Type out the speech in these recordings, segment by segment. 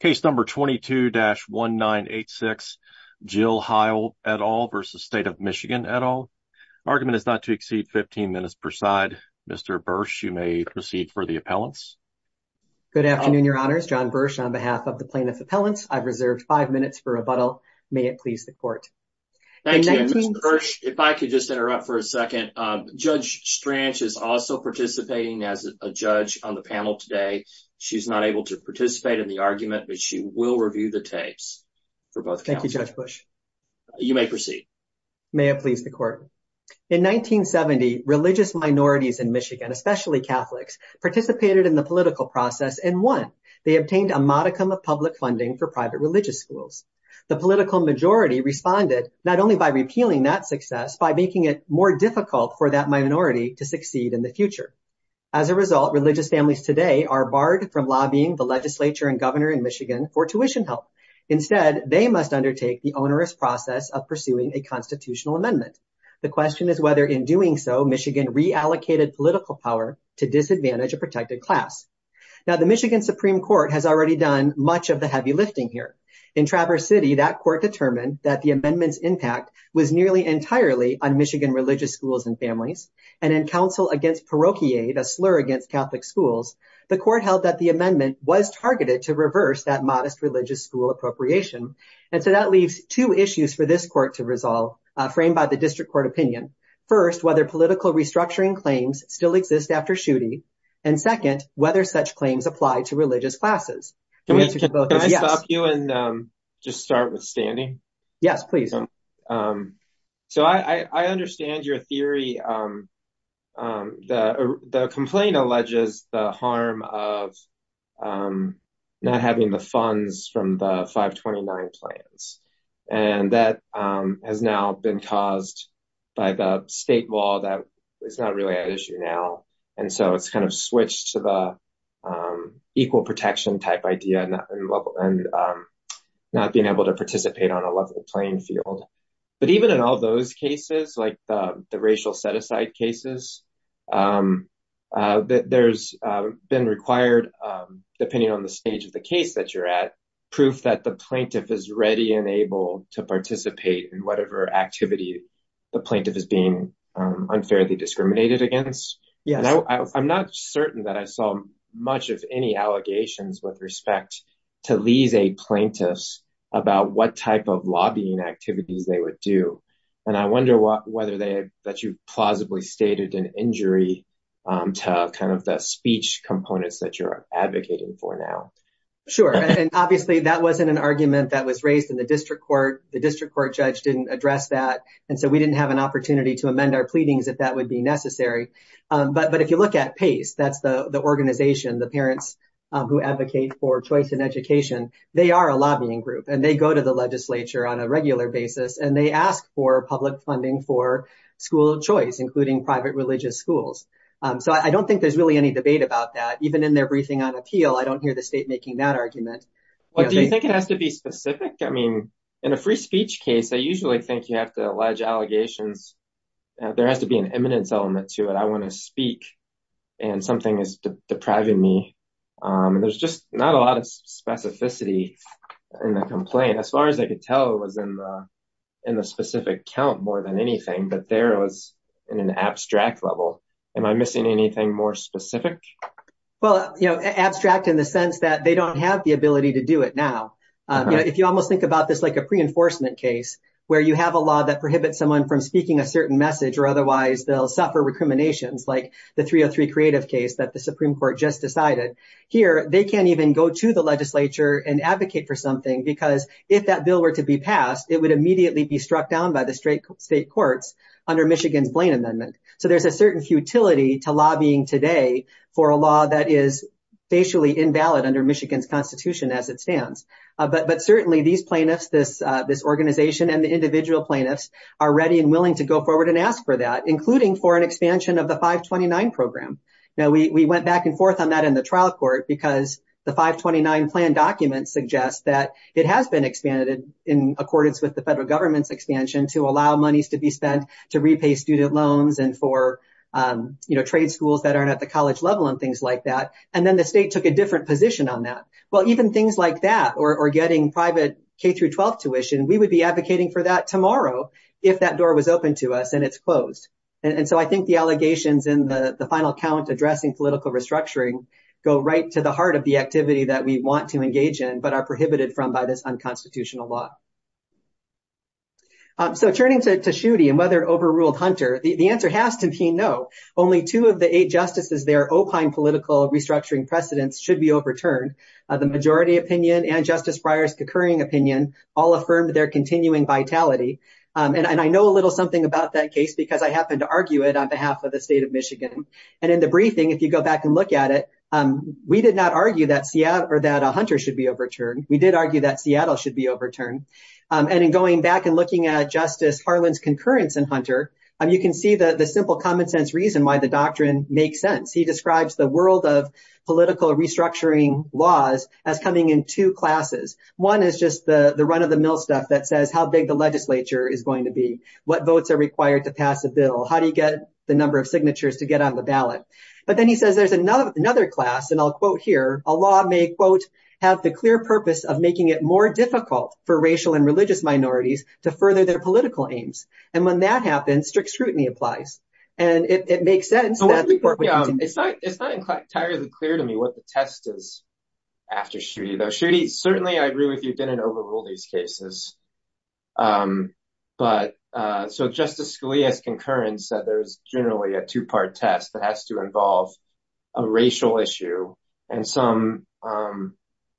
Case number 22-1986, Jill Hile et al. versus State of Michigan et al. Argument is not to exceed 15 minutes per side. Mr. Bursch, you may proceed for the appellants. Good afternoon, your honors. John Bursch on behalf of the plaintiff appellants. I've reserved five minutes for rebuttal. May it please the court. Thank you, Mr. Bursch. If I could just interrupt for a second. Judge Strange is also participating as a judge on the panel today. She's not able to participate in the argument, but she will review the tapes for both counsel. Thank you, Judge Bursch. You may proceed. May it please the court. In 1970, religious minorities in Michigan, especially Catholics, participated in the political process and won. They obtained a modicum of public funding for private religious schools. The political majority responded not only by repealing that success, by making it more difficult for that minority to succeed in the future. As a result, religious families today are barred from lobbying the legislature and governor in Michigan for tuition help. Instead, they must undertake the onerous process of pursuing a constitutional amendment. The question is whether in doing so, Michigan reallocated political power to disadvantage a protected class. Now, the Michigan Supreme Court has already done much of the heavy lifting here. In Traverse City, that court determined that the amendment's impact was nearly entirely on Michigan religious schools and families, and in counsel against parochia, a slur against Catholic schools, the court held that the amendment was targeted to reverse that modest religious school appropriation. And so that leaves two issues for this court to resolve, framed by the district court opinion. First, whether political restructuring claims still exist after Schuette, and second, whether such claims apply to religious classes. The answer to both is yes. Can I stop you and just start with standing? Yes, please. So I understand your theory. The complaint alleges the harm of not having the funds from the 529 plans. And that has now been caused by the state law that is not really an issue now. And so it's kind of switched to the equal protection type idea, and not being able to participate on a level playing field. But even in all those cases, like the racial set-aside cases, there's been required, depending on the stage of the case that you're at, proof that the plaintiff is ready and able to participate in whatever activity the plaintiff is being unfairly discriminated against. I'm not certain that I saw much of any allegations with respect to these eight plaintiffs about what type of lobbying activities they would do. And I wonder whether that you plausibly stated an injury to kind of the speech components that you're advocating for now. Sure, and obviously that wasn't an argument that was raised in the district court. The district court judge didn't address that. And so we didn't have an opportunity to amend our pleadings if that would be necessary. But if you look at PACE, that's the organization, the parents who advocate for choice in education, they are a lobbying group and they go to the legislature on a regular basis and they ask for public funding for school choice, including private religious schools. So I don't think there's really any debate about that. Even in their briefing on appeal, I don't hear the state making that argument. Well, do you think it has to be specific? I mean, in a free speech case, I usually think you have to allege allegations. There has to be an eminence element to it. I wanna speak and something is depriving me. And there's just not a lot of specificity in the complaint. As far as I could tell, it was in the specific count more than anything, but there it was in an abstract level. Am I missing anything more specific? Well, abstract in the sense that they don't have the ability to do it now. If you almost think about this like a pre-enforcement case where you have a law that prohibits someone from speaking a certain message or otherwise they'll suffer recriminations like the 303 creative case that the Supreme Court just decided. Here, they can't even go to the legislature and advocate for something because if that bill were to be passed, it would immediately be struck down by the state courts under Michigan's Blaine Amendment. So there's a certain futility to lobbying today for a law that is facially invalid under Michigan's constitution as it stands. But certainly these plaintiffs, this organization and the individual plaintiffs are ready and willing to go forward and ask for that, including for an expansion of the 529 program. Now, we went back and forth on that in the trial court because the 529 plan documents suggest that it has been expanded in accordance with the federal government's expansion to allow monies to be spent to repay student loans and for trade schools that aren't at the college level and things like that. And then the state took a different position on that. Well, even things like that or getting private K through 12 tuition, we would be advocating for that tomorrow if that door was open to us and it's closed. And so I think the allegations in the final count addressing political restructuring go right to the heart of the activity that we want to engage in, but are prohibited from by this unconstitutional law. So turning to Schuette and whether it overruled Hunter, the answer has to be no. Only two of the eight justices, their opine political restructuring precedents should be overturned. The majority opinion and Justice Breyer's concurring opinion all affirmed their continuing vitality. And I know a little something about that case because I happened to argue it on behalf of the state of Michigan. And in the briefing, if you go back and look at it, we did not argue that a Hunter should be overturned. We did argue that Seattle should be overturned. And in going back and looking at Justice Harlan's concurrence in Hunter, you can see the simple common sense reason why the doctrine makes sense. He describes the world of political restructuring laws as coming in two classes. One is just the run of the mill stuff that says how big the legislature is going to be, what votes are required to pass a bill, how do you get the number of signatures to get on the ballot? But then he says, there's another class and I'll quote here, a law may quote, have the clear purpose of making it more difficult for racial and religious minorities to further their political aims. And when that happens, strict scrutiny applies. And it makes sense that the court would- It's not entirely clear to me what the test is after Schuette though. Schuette, certainly I agree with you, didn't overrule these cases. But, so Justice Scalia's concurrence said there's generally a two-part test that has to involve a racial issue and some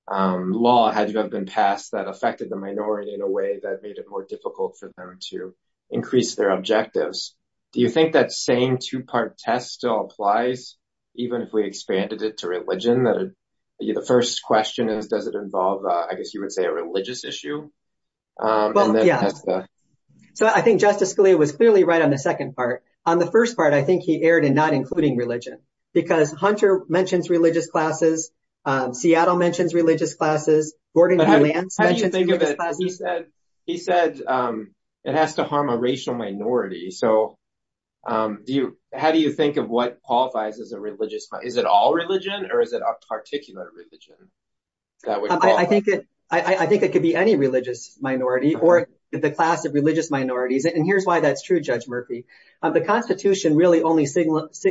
law had to have been passed that affected the minority in a way that made it more difficult for them to increase their objectives. Do you think that same two-part test still applies even if we expanded it to religion? The first question is, does it involve, I guess you would say a religious issue? Well, yeah. So I think Justice Scalia was clearly right on the second part. On the first part, I think he erred in not including religion because Hunter mentions religious classes, Seattle mentions religious classes, Gordon B. Lance mentions religious classes. He said, it has to harm a racial minority. So how do you think of what qualifies as a religious, is it all religion or is it a particular religion that would qualify? I think it could be any religious minority or the class of religious minorities. And here's why that's true, Judge Murphy. The Constitution really only singles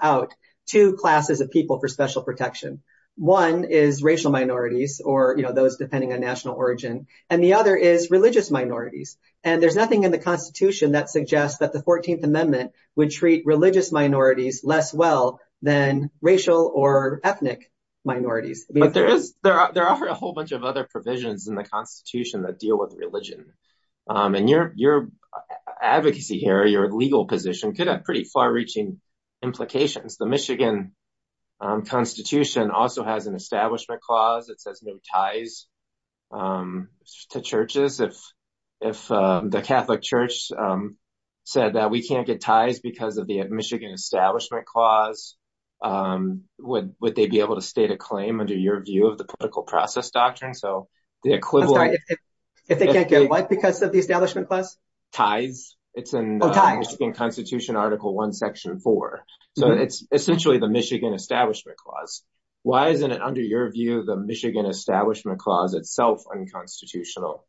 out two classes of people for special protection. One is racial minorities or those depending on national origin. And the other is religious minorities. And there's nothing in the Constitution that suggests that the 14th Amendment would treat religious minorities less well than racial or ethnic minorities. But there are a whole bunch of other provisions in the Constitution that deal with religion. And your advocacy here, your legal position could have pretty far reaching implications. The Michigan Constitution also has an establishment clause that says no ties to churches. If the Catholic Church said that we can't get ties would they be able to state a claim under your view of the political process doctrine? So the equivalent- I'm sorry, if they can't get what because of the establishment clause? Ties, it's in the Michigan Constitution, Article 1, Section 4. So it's essentially the Michigan Establishment Clause. Why isn't it under your view, the Michigan Establishment Clause itself unconstitutional?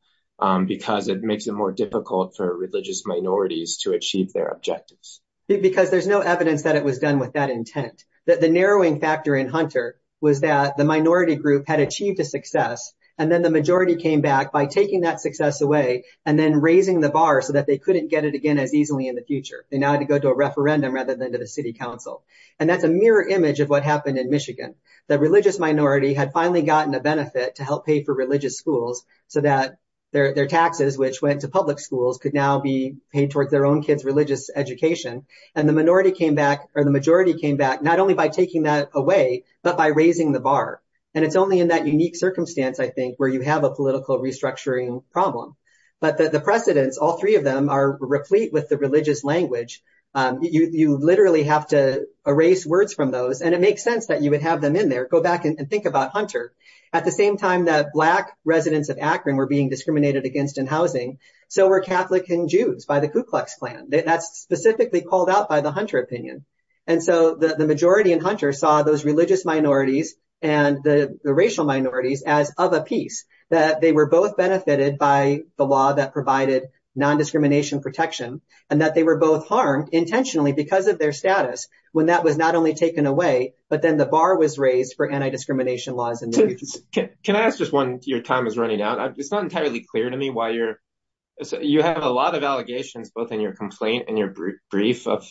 Because it makes it more difficult for religious minorities to achieve their objectives. Because there's no evidence that it was done with that intent. That the narrowing factor in Hunter was that the minority group had achieved a success. And then the majority came back by taking that success away and then raising the bar so that they couldn't get it again as easily in the future. They now had to go to a referendum rather than to the city council. And that's a mirror image of what happened in Michigan. The religious minority had finally gotten a benefit to help pay for religious schools so that their taxes, which went to public schools could now be paid towards their own kids' religious education. And the minority came back or the majority came back not only by taking that away, but by raising the bar. And it's only in that unique circumstance, I think, where you have a political restructuring problem. But the precedents, all three of them are replete with the religious language. You literally have to erase words from those. And it makes sense that you would have them in there. Go back and think about Hunter. At the same time that black residents of Akron were being discriminated against in housing, so were Catholic and Jews by the Ku Klux Klan. That's specifically called out by the Hunter opinion. And so the majority in Hunter saw those religious minorities and the racial minorities as of a piece, that they were both benefited by the law that provided non-discrimination protection and that they were both harmed intentionally because of their status when that was not only taken away, but then the bar was raised for anti-discrimination laws in the region. Can I ask just one? Your time is running out. It's not entirely clear to me why you're... You have a lot of allegations, both in your complaint and your brief of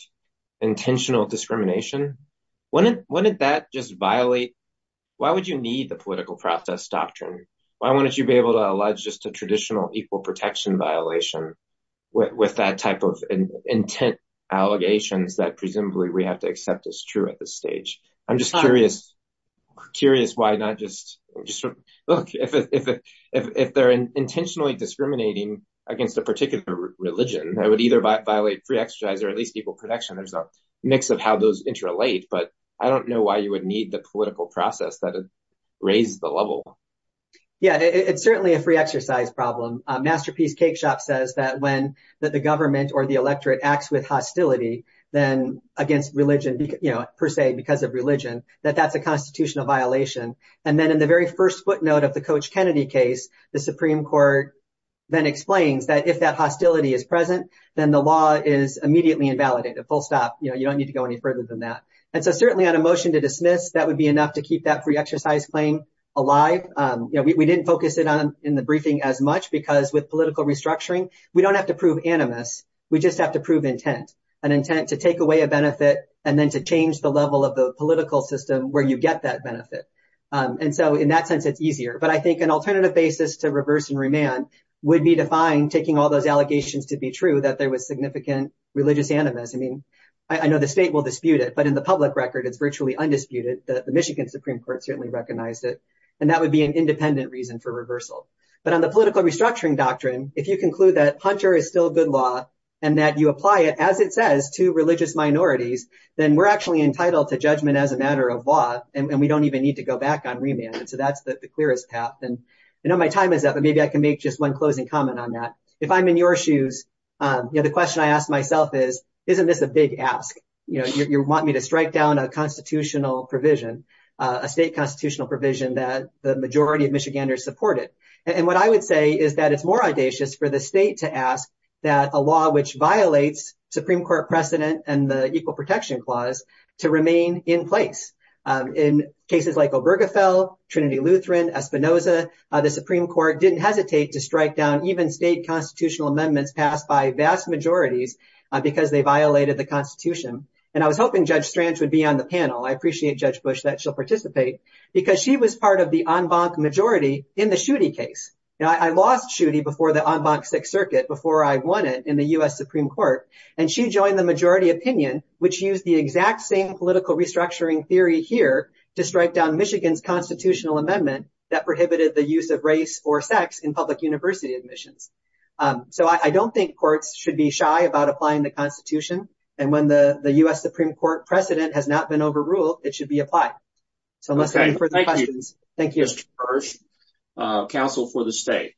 intentional discrimination. When did that just violate... Why would you need the political process doctrine? Why wouldn't you be able to allege just a traditional equal protection violation with that type of intent allegations that presumably we have to accept as true at this stage? I'm just curious why not just... Look, if they're intentionally discriminating against a particular religion, that would either violate free exercise or at least equal protection. There's a mix of how those interrelate, but I don't know why you would need the political process that raises the level. Yeah, it's certainly a free exercise problem. Masterpiece Cakeshop says that when the government or the electorate acts with hostility then against religion, per se, because of religion, that that's a constitutional violation. And then in the very first footnote of the Coach Kennedy case, the Supreme Court then explains that if that hostility is present, then the law is immediately invalidated. So, you know, you don't need to go any further than that. And so certainly on a motion to dismiss, that would be enough to keep that free exercise claim alive. You know, we didn't focus it on in the briefing as much because with political restructuring, we don't have to prove animus, we just have to prove intent. An intent to take away a benefit and then to change the level of the political system where you get that benefit. And so in that sense, it's easier. But I think an alternative basis to reverse and remand would be to find taking all those allegations to be true that there was significant religious animus. I know the state will dispute it, but in the public record, it's virtually undisputed. The Michigan Supreme Court certainly recognized it. And that would be an independent reason for reversal. But on the political restructuring doctrine, if you conclude that Hunter is still good law and that you apply it as it says to religious minorities, then we're actually entitled to judgment as a matter of law and we don't even need to go back on remand. And so that's the clearest path. And I know my time is up, but maybe I can make just one closing comment on that. If I'm in your shoes, you know, the question I ask myself is, isn't this a big ask? You know, you want me to strike down a constitutional provision, a state constitutional provision that the majority of Michiganders supported. And what I would say is that it's more audacious for the state to ask that a law which violates Supreme Court precedent and the Equal Protection Clause to remain in place. In cases like Obergefell, Trinity Lutheran, Espinosa, the Supreme Court didn't hesitate to strike down even state constitutional amendments passed by vast majorities because they violated the constitution. And I was hoping Judge Strange would be on the panel. I appreciate Judge Bush that she'll participate because she was part of the en banc majority in the Schuette case. Now I lost Schuette before the en banc Sixth Circuit before I won it in the US Supreme Court. And she joined the majority opinion which used the exact same political restructuring theory here to strike down Michigan's constitutional amendment that prohibited the use of race or sex in public university admissions. So I don't think courts should be shy about applying the constitution. And when the US Supreme Court precedent has not been overruled, it should be applied. So unless you have any further questions. Thank you. Thank you, Judge Bush. Counsel for the state.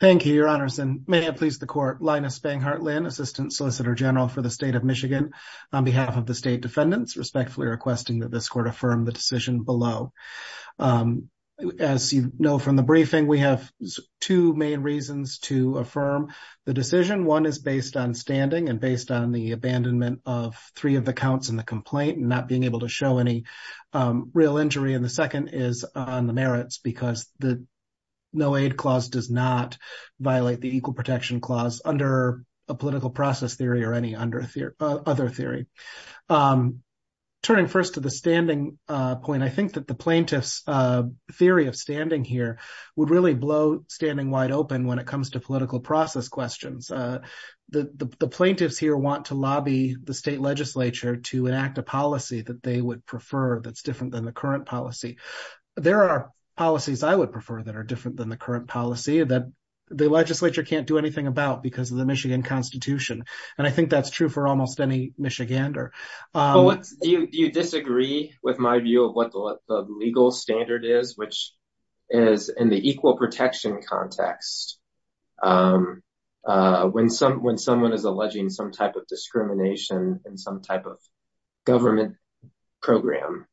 Thank you, your honors. And may I please the court, Linus Banghart-Linn, Assistant Solicitor General for the state of Michigan on behalf of the state defendants, respectfully requesting that this court affirm the decision below. As you know from the briefing, I think we have two main reasons to affirm the decision. One is based on standing and based on the abandonment of three of the counts in the complaint and not being able to show any real injury. And the second is on the merits because the no aid clause does not violate the equal protection clause under a political process theory or any other theory. Turning first to the standing point, I think that the plaintiff's theory of standing here would really blow standing wide open when it comes to political process questions. The plaintiffs here want to lobby the state legislature to enact a policy that they would prefer that's different than the current policy. There are policies I would prefer that are different than the current policy that the legislature can't do anything about because of the Michigan constitution. And I think that's true for almost any Michigander. Do you disagree with my view of what the legal standard is, which is in the equal protection context, when someone is alleging some type of discrimination in some type of government program,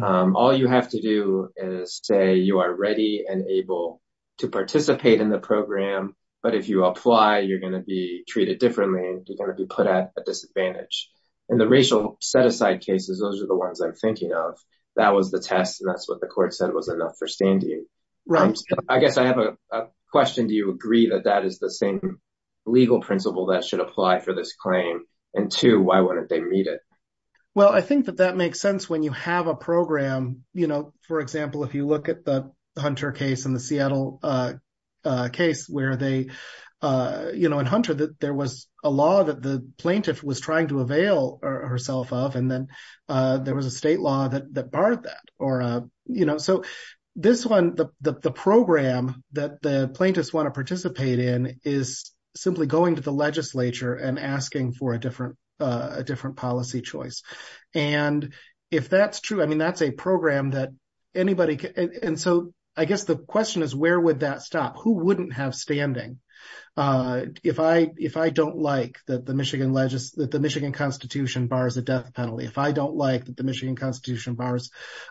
all you have to do is say you are ready and able to participate in the program, but if you apply, you're gonna be treated differently and you're gonna be put at a disadvantage. In the racial set aside cases, those are the ones I'm thinking of. That was the test and that's what the court said was enough for standing. I guess I have a question. Do you agree that that is the same legal principle that should apply for this claim? And two, why wouldn't they meet it? Well, I think that that makes sense when you have a program, for example, if you look at the Hunter case and the Seattle case where they, in Hunter, there was a law that the plaintiff was trying to avail herself of and then there was a state law that barred that. So this one, the program that the plaintiffs wanna participate in is simply going to the legislature and asking for a different policy choice. And if that's true, I mean, that's a program that anybody can, and so I guess the question is, where would that stop? Who wouldn't have standing? If I don't like that the Michigan Constitution bars the death penalty, if I don't like that the Michigan Constitution bars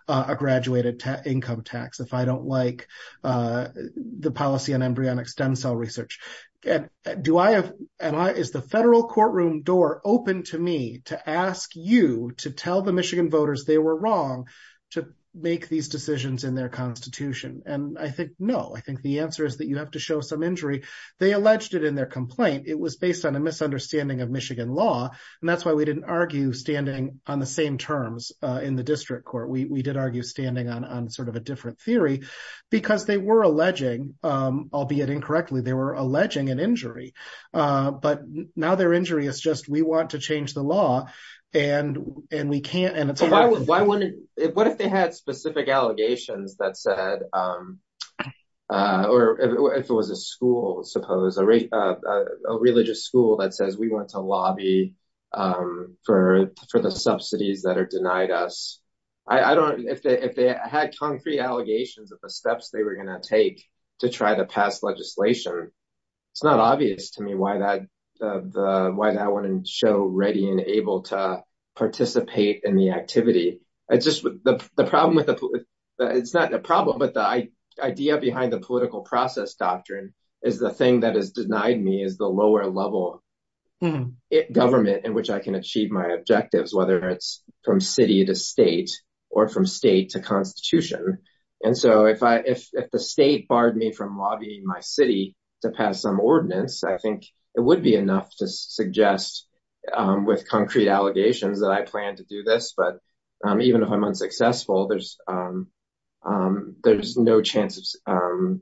a graduated income tax, if I don't like the policy on embryonic stem cell research, is the federal courtroom door open to me to ask you to tell the Michigan voters they were wrong to make these decisions in their constitution? And I think, no, I think the answer is that you have to show some injury. They alleged it in their complaint. It was based on a misunderstanding of Michigan law, and that's why we didn't argue standing on the same terms in the district court. We did argue standing on sort of a different theory because they were alleging, albeit incorrectly, they were alleging an injury, but now their injury is just, we want to change the law, and we can't, and it's- Why wouldn't, what if they had specific allegations that said, or if it was a school, suppose, a religious school that says, we want to lobby for the subsidies that are denied us. I don't, if they had concrete allegations of the steps they were gonna take to try to pass legislation, it's not obvious to me why that wouldn't show ready and able to participate in the activity. It's just the problem with the, it's not a problem, but the idea behind the political process doctrine is the thing that has denied me is the lower level government in which I can achieve my objectives, whether it's from city to state or from state to constitution. And so if the state barred me from lobbying my city to pass some ordinance, I think it would be enough to suggest with concrete allegations that I plan to do this, but even if I'm unsuccessful, there's no chance of,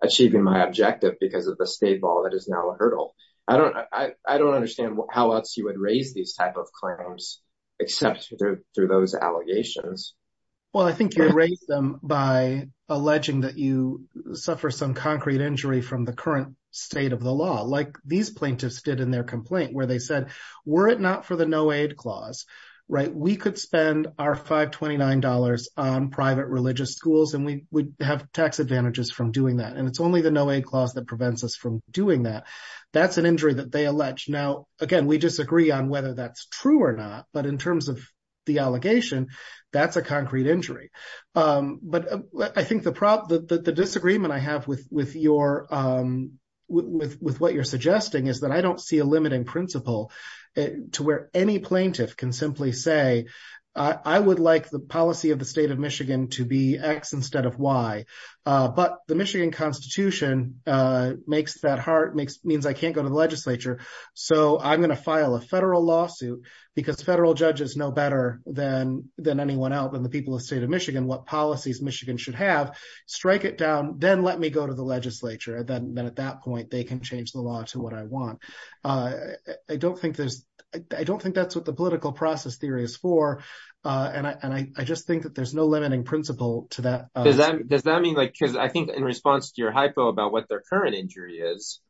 achieving my objective because of the state bar that is now a hurdle. I don't understand how else you would raise these type of claims, except through those allegations. Well, I think you raise them by alleging that you suffer some concrete injury from the current state of the law, like these plaintiffs did in their complaint, where they said, were it not for the no aid clause, right? We could spend our $529 on private religious schools and we would have tax advantages from doing that. And it's only the no aid clause that prevents us from doing that. That's an injury that they allege. Now, again, we disagree on whether that's true or not, but in terms of the allegation, that's a concrete injury. But I think the disagreement I have with what you're suggesting is that I don't see a limiting principle to where any plaintiff can simply say, I would like the policy of the state of Michigan to be X instead of Y, but the Michigan constitution makes that hard, means I can't go to the legislature. So I'm gonna file a federal lawsuit because federal judges know better than anyone else than the people of the state of Michigan what policies Michigan should have, strike it down, then let me go to the legislature. And then at that point, they can change the law to what I want. I don't think that's what the political process theory is for, and I just think that there's no limiting principle to that. Does that mean like, because I think in response to your hypo about what their current injury is,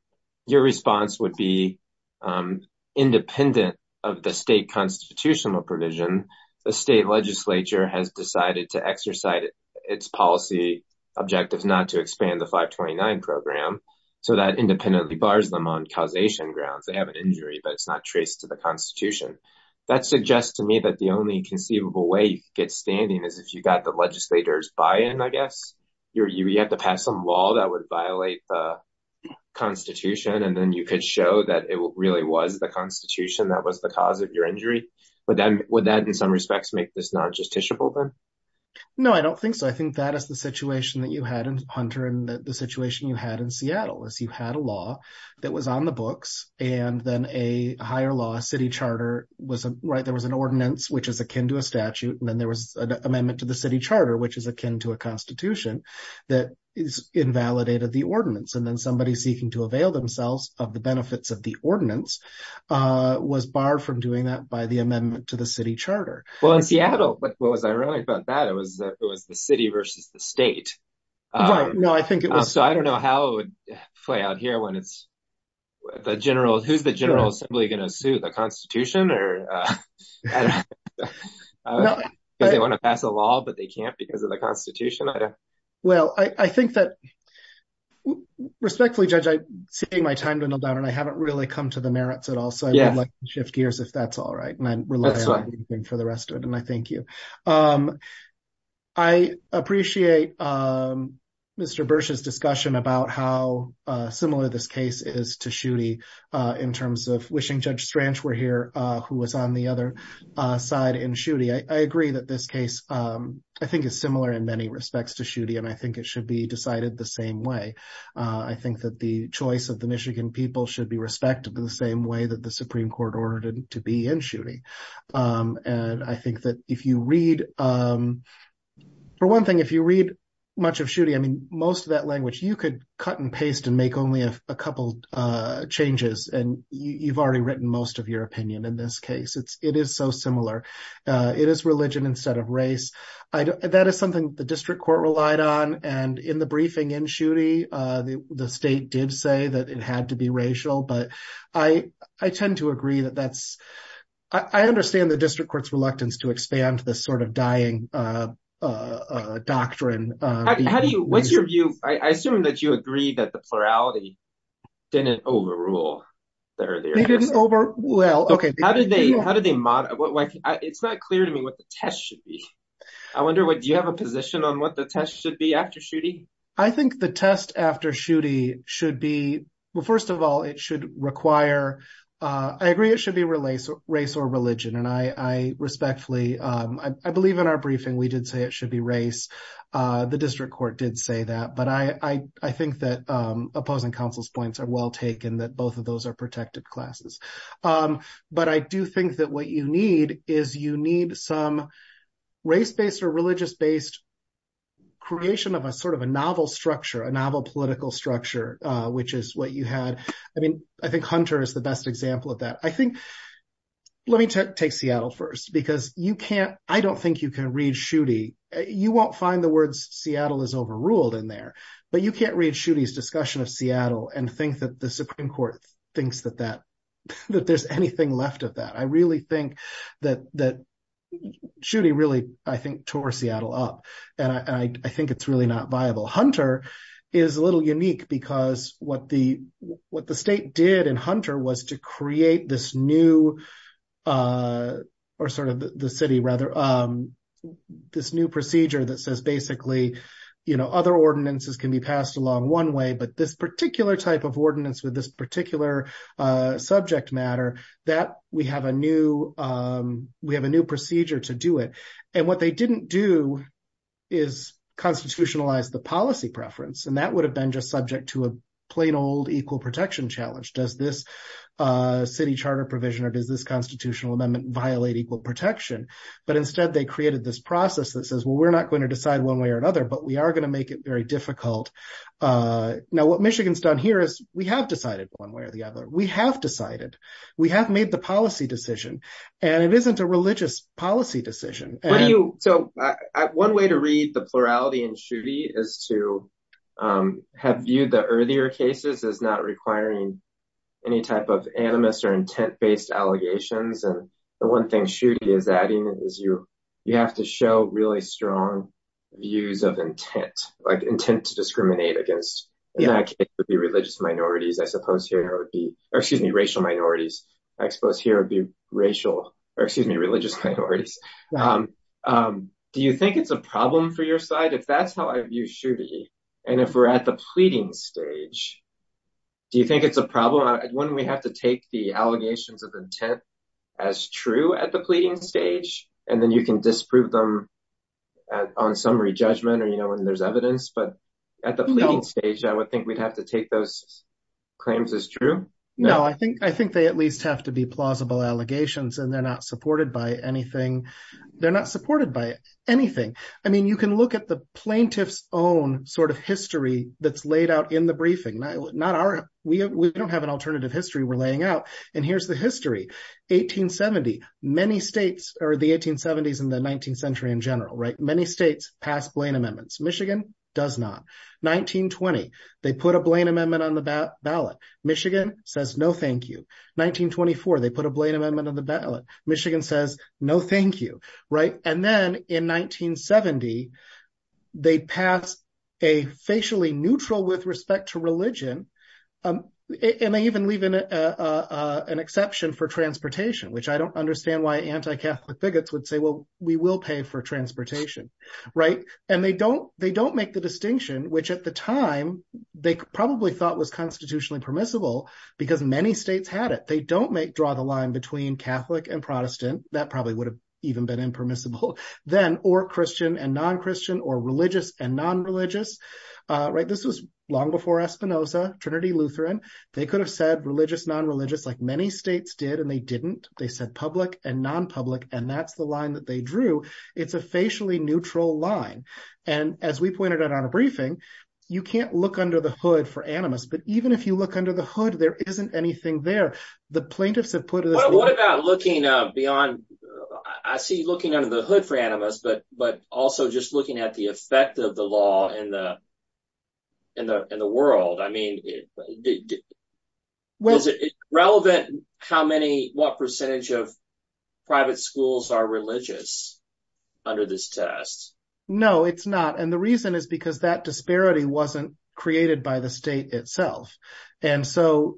your response would be independent of the state constitutional provision. The state legislature has decided to exercise its policy objectives not to expand the 529 program. So that independently bars them on causation grounds. They have an injury, but it's not traced to the constitution. That suggests to me that the only conceivable way you could get standing is if you got the legislator's buy-in, I guess. You have to pass some law that would violate the constitution, and then you could show that it really was the constitution that was the cause of your injury. But then would that in some respects make this non-justiciable then? No, I don't think so. I think that is the situation that you had in Hunter and the situation you had in Seattle is you had a law that was on the books and then a higher law city charter was, right, there was an ordinance, which is akin to a statute, and then there was an amendment to the city charter, which is akin to a constitution that invalidated the ordinance. And then somebody seeking to avail themselves of the benefits of the ordinance was barred from doing that by the amendment to the city charter. Well, in Seattle, what was ironic about that, it was the city versus the state. Right, no, I think it was- So I don't know how it would play out here when it's the general, who's the general assembly gonna sue, the constitution or? I don't know. They wanna pass a law, but they can't because of the constitution. Well, I think that, respectfully, Judge, I'm seeing my time dwindle down and I haven't really come to the merits at all. So I'd like to shift gears if that's all right. And I'm relying on you for the rest of it. And I thank you. I appreciate Mr. Bursch's discussion about how similar this case is to Schutte in terms of wishing Judge Strange were here, who was on the other side in Schutte. I agree that this case, I think is similar in many respects to Schutte. And I think it should be decided the same way. I think that the choice of the Michigan people should be respected in the same way that the Supreme Court ordered it to be in Schutte. And I think that if you read, for one thing, if you read much of Schutte, I mean, most of that language, you could cut and paste and make only a couple changes and you've already written most of your opinion in this case. It is so similar. It is religion instead of race. That is something the district court relied on. And in the briefing in Schutte, the state did say that it had to be racial, but I tend to agree that that's, I understand the district court's reluctance to expand to this sort of dying doctrine. How do you, what's your view? I assume that you agree that the plurality didn't overrule the earlier. They didn't over, well, okay. How did they, how did they modify? It's not clear to me what the test should be. I wonder what, do you have a position on what the test should be after Schutte? I think the test after Schutte should be, well, first of all, it should require, I agree it should be race or religion. And I respectfully, I believe in our briefing, we did say it should be race. The district court did say that, but I think that opposing counsel's points are well taken that both of those are protected classes. But I do think that what you need is you need some race-based or religious-based creation of a sort of a novel structure, a novel political structure, which is what you had. I mean, I think Hunter is the best example of that. I think, let me take Seattle first because you can't, I don't think you can read Schutte. You won't find the words Seattle is overruled in there, but you can't read Schutte's discussion of Seattle and think that the Supreme Court thinks that that, that there's anything left of that. I really think that Schutte really, I think, tore Seattle up, and I think it's really not viable. Hunter is a little unique because what the state did in Hunter was to create this new, or sort of the city, rather, this new procedure that says basically, other ordinances can be passed along one way, but this particular type of ordinance with this particular subject matter, that we have a new procedure to do it. And what they didn't do is constitutionalize the policy preference, and that would have been just subject to a plain old equal protection challenge. Does this city charter provision or does this constitutional amendment violate equal protection? But instead, they created this process that says, well, we're not going to decide one way or another, but we are gonna make it very difficult. Now, what Michigan's done here is we have decided one way or the other. We have decided, we have made the policy decision, and it isn't a religious policy decision. So one way to read the plurality in Schutte is to have viewed the earlier cases as not requiring any type of animus or intent-based allegations. And the one thing Schutte is adding is you have to show really strong views of intent, like intent to discriminate against. In that case, it would be religious minorities, I suppose here it would be, or excuse me, racial minorities. I suppose here it would be racial, or excuse me, religious minorities. Do you think it's a problem for your side? If that's how I view Schutte, and if we're at the pleading stage, do you think it's a problem? Wouldn't we have to take the allegations of intent as true at the pleading stage? And then you can disprove them on summary judgment or when there's evidence. But at the pleading stage, I would think we'd have to take those claims as true. No, I think they at least have to be plausible allegations and they're not supported by anything. They're not supported by anything. I mean, you can look at the plaintiff's own sort of history that's laid out in the briefing. Not our, we don't have an alternative history we're laying out. And here's the history. 1870, many states, or the 1870s and the 19th century in general, right? Many states pass Blaine amendments. Michigan does not. 1920, they put a Blaine amendment on the ballot. Michigan says, no, thank you. 1924, they put a Blaine amendment on the ballot. Michigan says, no, thank you, right? And then in 1970, they pass a facially neutral with respect to religion. And they even leave an exception for transportation, which I don't understand why anti-Catholic bigots would say, well, we will pay for transportation, right? And they don't make the distinction, which at the time they probably thought was constitutionally permissible because many states had it. They don't make draw the line between Catholic and Protestant. That probably would have even been impermissible then or Christian and non-Christian or religious and non-religious, right? This was long before Espinoza, Trinity, Lutheran. They could have said religious, non-religious like many states did, and they didn't. They said public and non-public. And that's the line that they drew. It's a facially neutral line. And as we pointed out on a briefing, you can't look under the hood for animus, but even if you look under the hood, there isn't anything there. The plaintiffs have put this- What about looking beyond, I see looking under the hood for animus, but also just looking at the effect of the law in the world. I mean, is it relevant how many, what percentage of private schools are religious under this test? No, it's not. And the reason is because that disparity wasn't created by the state itself. And so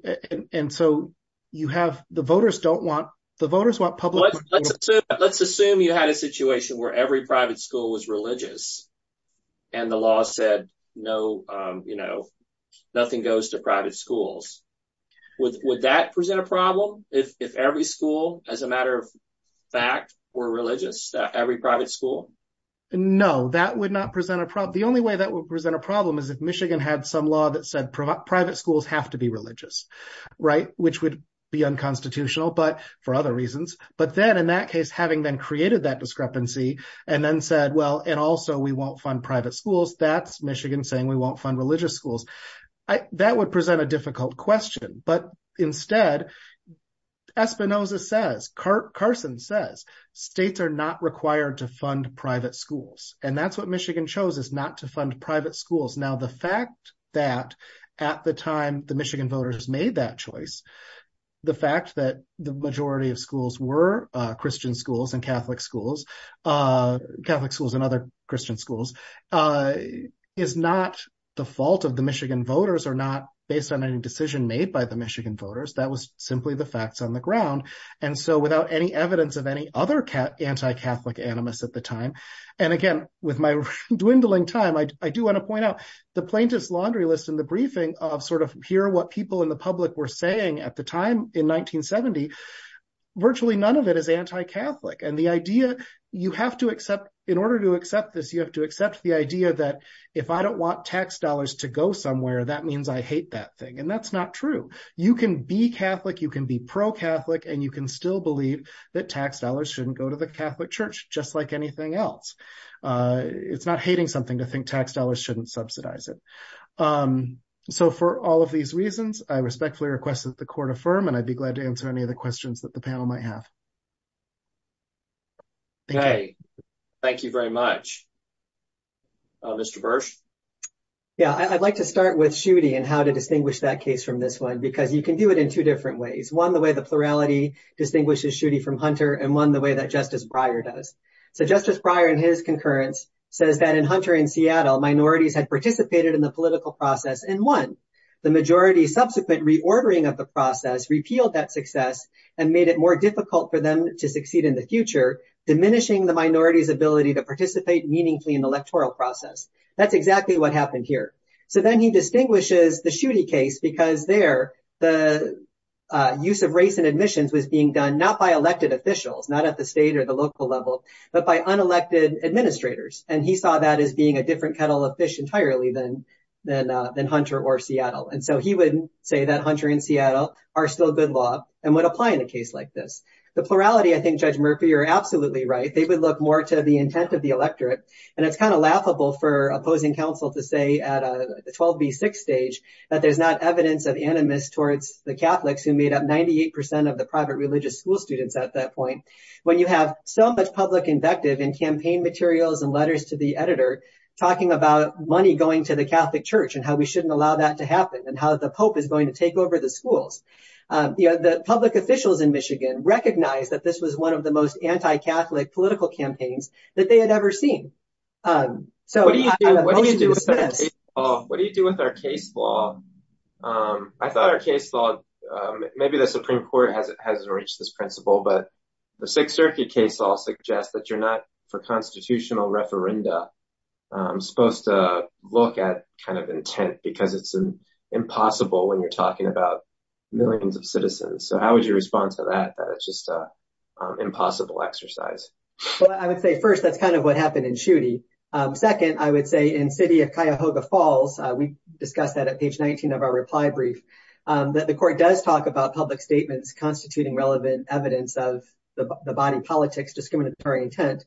you have, the voters don't want, the voters want public- Let's assume you had a situation where every private school was religious and the law said, no, you know, nothing goes to private schools. Would that present a problem if every school, as a matter of fact, were religious, every private school? No, that would not present a problem. The only way that would present a problem is if Michigan had some law that said private schools have to be religious, right? Which would be unconstitutional, but for other reasons. But then in that case, having then created that discrepancy and then said, well, and also we won't fund private schools, that's Michigan saying we won't fund religious schools. That would present a difficult question. But instead, Espinosa says, Carson says, states are not required to fund private schools. And that's what Michigan chose is not to fund private schools. Now, the fact that at the time the Michigan voters made that choice, the fact that the majority of schools were Christian schools and Catholic schools, Catholic schools and other Christian schools, is not the fault of the Michigan voters or not based on any decision made by the Michigan voters. That was simply the facts on the ground. And so without any evidence of any other anti-Catholic animus at the time, and again, with my dwindling time, I do wanna point out the plaintiff's laundry list in the briefing of sort of here, what people in the public were saying at the time in 1970, virtually none of it is anti-Catholic. And the idea, you have to accept, in order to accept this, you have to accept the idea that if I don't want tax dollars to go somewhere, that means I hate that thing. And that's not true. You can be Catholic, you can be pro-Catholic, and you can still believe that tax dollars shouldn't go to the Catholic church, just like anything else. It's not hating something to think tax dollars shouldn't subsidize it. So for all of these reasons, I respectfully request that the court affirm, and I'd be glad to answer any of the questions that the panel might have. Thank you. Thank you very much. Mr. Bursch? Yeah, I'd like to start with Schutte and how to distinguish that case from this one, because you can do it in two different ways. One, the way the plurality distinguishes Schutte from Hunter, and one, the way that Justice Breyer does. So Justice Breyer, in his concurrence, says that in Hunter and Seattle, minorities had participated in the political process in one, the majority's subsequent reordering of the process repealed that success and made it more difficult for them to succeed in the future, diminishing the minority's ability to participate meaningfully in the electoral process. That's exactly what happened here. So then he distinguishes the Schutte case because there, the use of race in admissions was being done not by elected officials, not at the state or the local level, but by unelected administrators. And he saw that as being a different kettle of fish entirely than Hunter or Seattle. And so he wouldn't say that Hunter and Seattle are still good law and would apply in a case like this. The plurality, I think, Judge Murphy, you're absolutely right. They would look more to the intent of the electorate. And it's kind of laughable for opposing counsel to say at a 12B6 stage that there's not evidence of animus towards the Catholics who made up 98% of the private religious school students at that point. When you have so much public invective in campaign materials and letters to the editor, talking about money going to the Catholic church and how we shouldn't allow that to happen and how the Pope is going to take over the schools. The public officials in Michigan recognized that this was one of the most anti-Catholic political campaigns that they had ever seen. So what do you do with this? What do you do with our case law? I thought our case law, maybe the Supreme Court hasn't reached this principle, but the Sixth Circuit case law suggests that you're not for constitutional referenda supposed to look at kind of intent because it's impossible when you're talking about millions of citizens. So how would you respond to that, that it's just an impossible exercise? Well, I would say first, that's kind of what happened in Schuette. Second, I would say in City of Cuyahoga Falls, we discussed that at page 19 of our reply brief, that the court does talk about public statements constituting relevant evidence of the body politics discriminatory intent.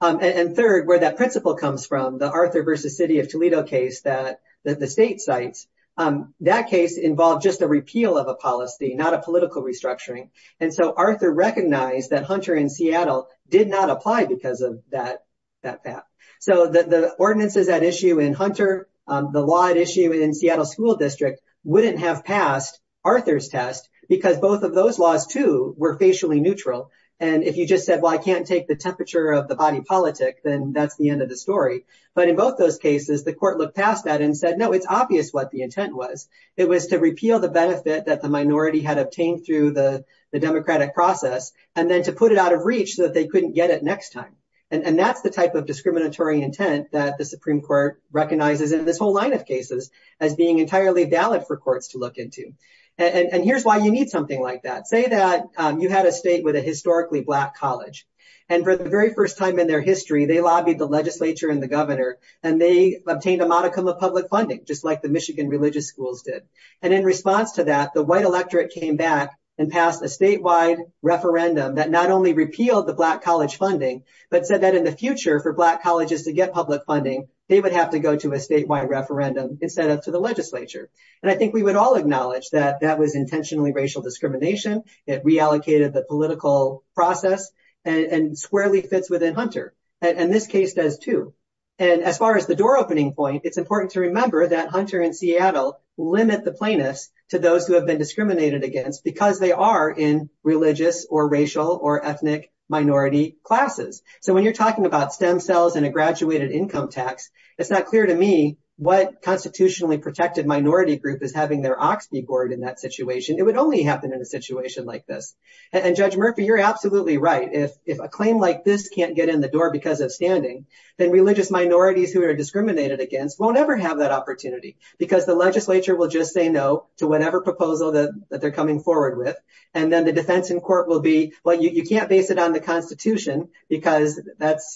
And third, where that principle comes from, the Arthur versus City of Toledo case, that the state cites, that case involved just a repeal of a policy, not a political restructuring. And so Arthur recognized that Hunter in Seattle did not apply because of that fact. So the ordinances at issue in Hunter, the law at issue in Seattle School District wouldn't have passed Arthur's test because both of those laws too were facially neutral. And if you just said, well, I can't take the temperature of the body politic, then that's the end of the story. But in both those cases, the court looked past that and said, no, it's obvious what the intent was. It was to repeal the benefit that the minority had obtained through the democratic process, and then to put it out of reach so that they couldn't get it next time. And that's the type of discriminatory intent that the Supreme Court recognizes in this whole line of cases as being entirely valid for courts to look into. And here's why you need something like that. Say that you had a state with a historically black college, and for the very first time in their history, they lobbied the legislature and the governor, and they obtained a modicum of public funding, just like the Michigan religious schools did. And in response to that, the white electorate came back and passed a statewide referendum that not only repealed the black college funding, but said that in the future for black colleges to get public funding, they would have to go to a statewide referendum instead of to the legislature. And I think we would all acknowledge that that was intentionally racial discrimination. It reallocated the political process and squarely fits within Hunter. And this case does too. And as far as the door opening point, it's important to remember that Hunter and Seattle limit the plaintiffs to those who have been discriminated against because they are in religious or racial or ethnic minority classes. So when you're talking about STEM cells and a graduated income tax, it's not clear to me what constitutionally protected minority group is having their ox be bored in that situation. It would only happen in a situation like this. And Judge Murphy, you're absolutely right. If a claim like this can't get in the door because of standing, then religious minorities who are discriminated against won't ever have that opportunity because the legislature will just say no to whatever proposal that they're coming forward with. And then the defense in court will be, well, you can't base it on the constitution because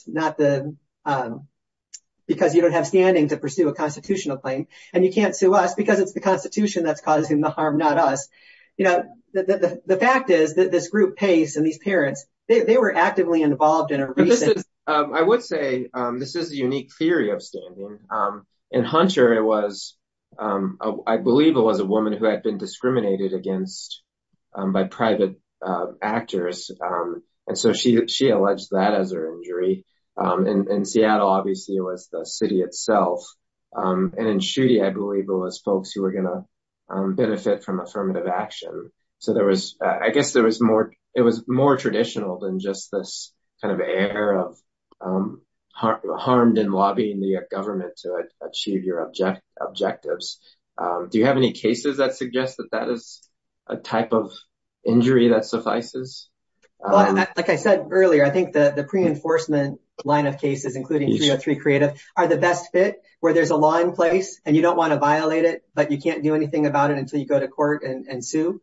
you don't have standing to pursue a constitutional claim. And you can't sue us because it's the constitution that's causing the harm, not us. The fact is that this group Pace and these parents, they were actively involved in a recent- I would say this is a unique theory of standing. In Hunter, I believe it was a woman who had been discriminated against by private actors. And so she alleged that as her injury. And in Seattle, obviously it was the city itself. And in Schuette, I believe it was folks who were gonna benefit from affirmative action. So I guess it was more traditional than just this kind of air of harmed in lobbying the government to achieve your objectives. Do you have any cases that suggest that that is a type of injury that suffices? Like I said earlier, I think the pre-enforcement line of cases, including 303 Creative are the best fit where there's a law in place and you don't wanna violate it, but you can't do anything about it and sue.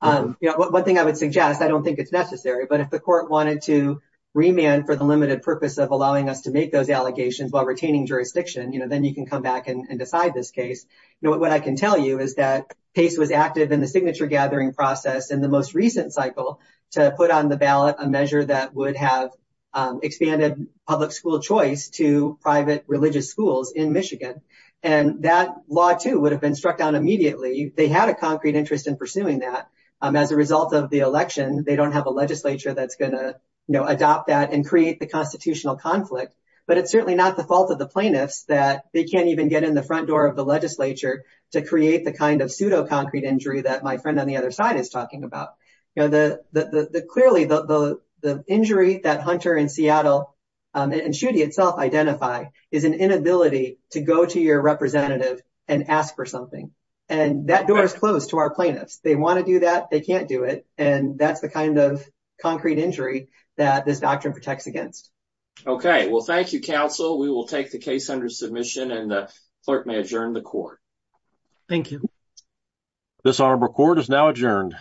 One thing I would suggest, I don't think it's necessary, but if the court wanted to remand for the limited purpose of allowing us to make those allegations while retaining jurisdiction, then you can come back and decide this case. What I can tell you is that Pace was active in the signature gathering process in the most recent cycle to put on the ballot a measure that would have expanded public school choice to private religious schools in Michigan. And that law too would have been struck down immediately. They had a concrete interest in pursuing that. As a result of the election, they don't have a legislature that's gonna adopt that and create the constitutional conflict, but it's certainly not the fault of the plaintiffs that they can't even get in the front door of the legislature to create the kind of pseudo concrete injury that my friend on the other side is talking about. Clearly the injury that Hunter and Seattle and Schuette itself identify is an inability to go to your representative and ask for something. And that door is closed to our plaintiffs. They wanna do that, they can't do it. And that's the kind of concrete injury that this doctrine protects against. Okay, well, thank you, counsel. We will take the case under submission and the clerk may adjourn the court. Thank you. This honorable court is now adjourned.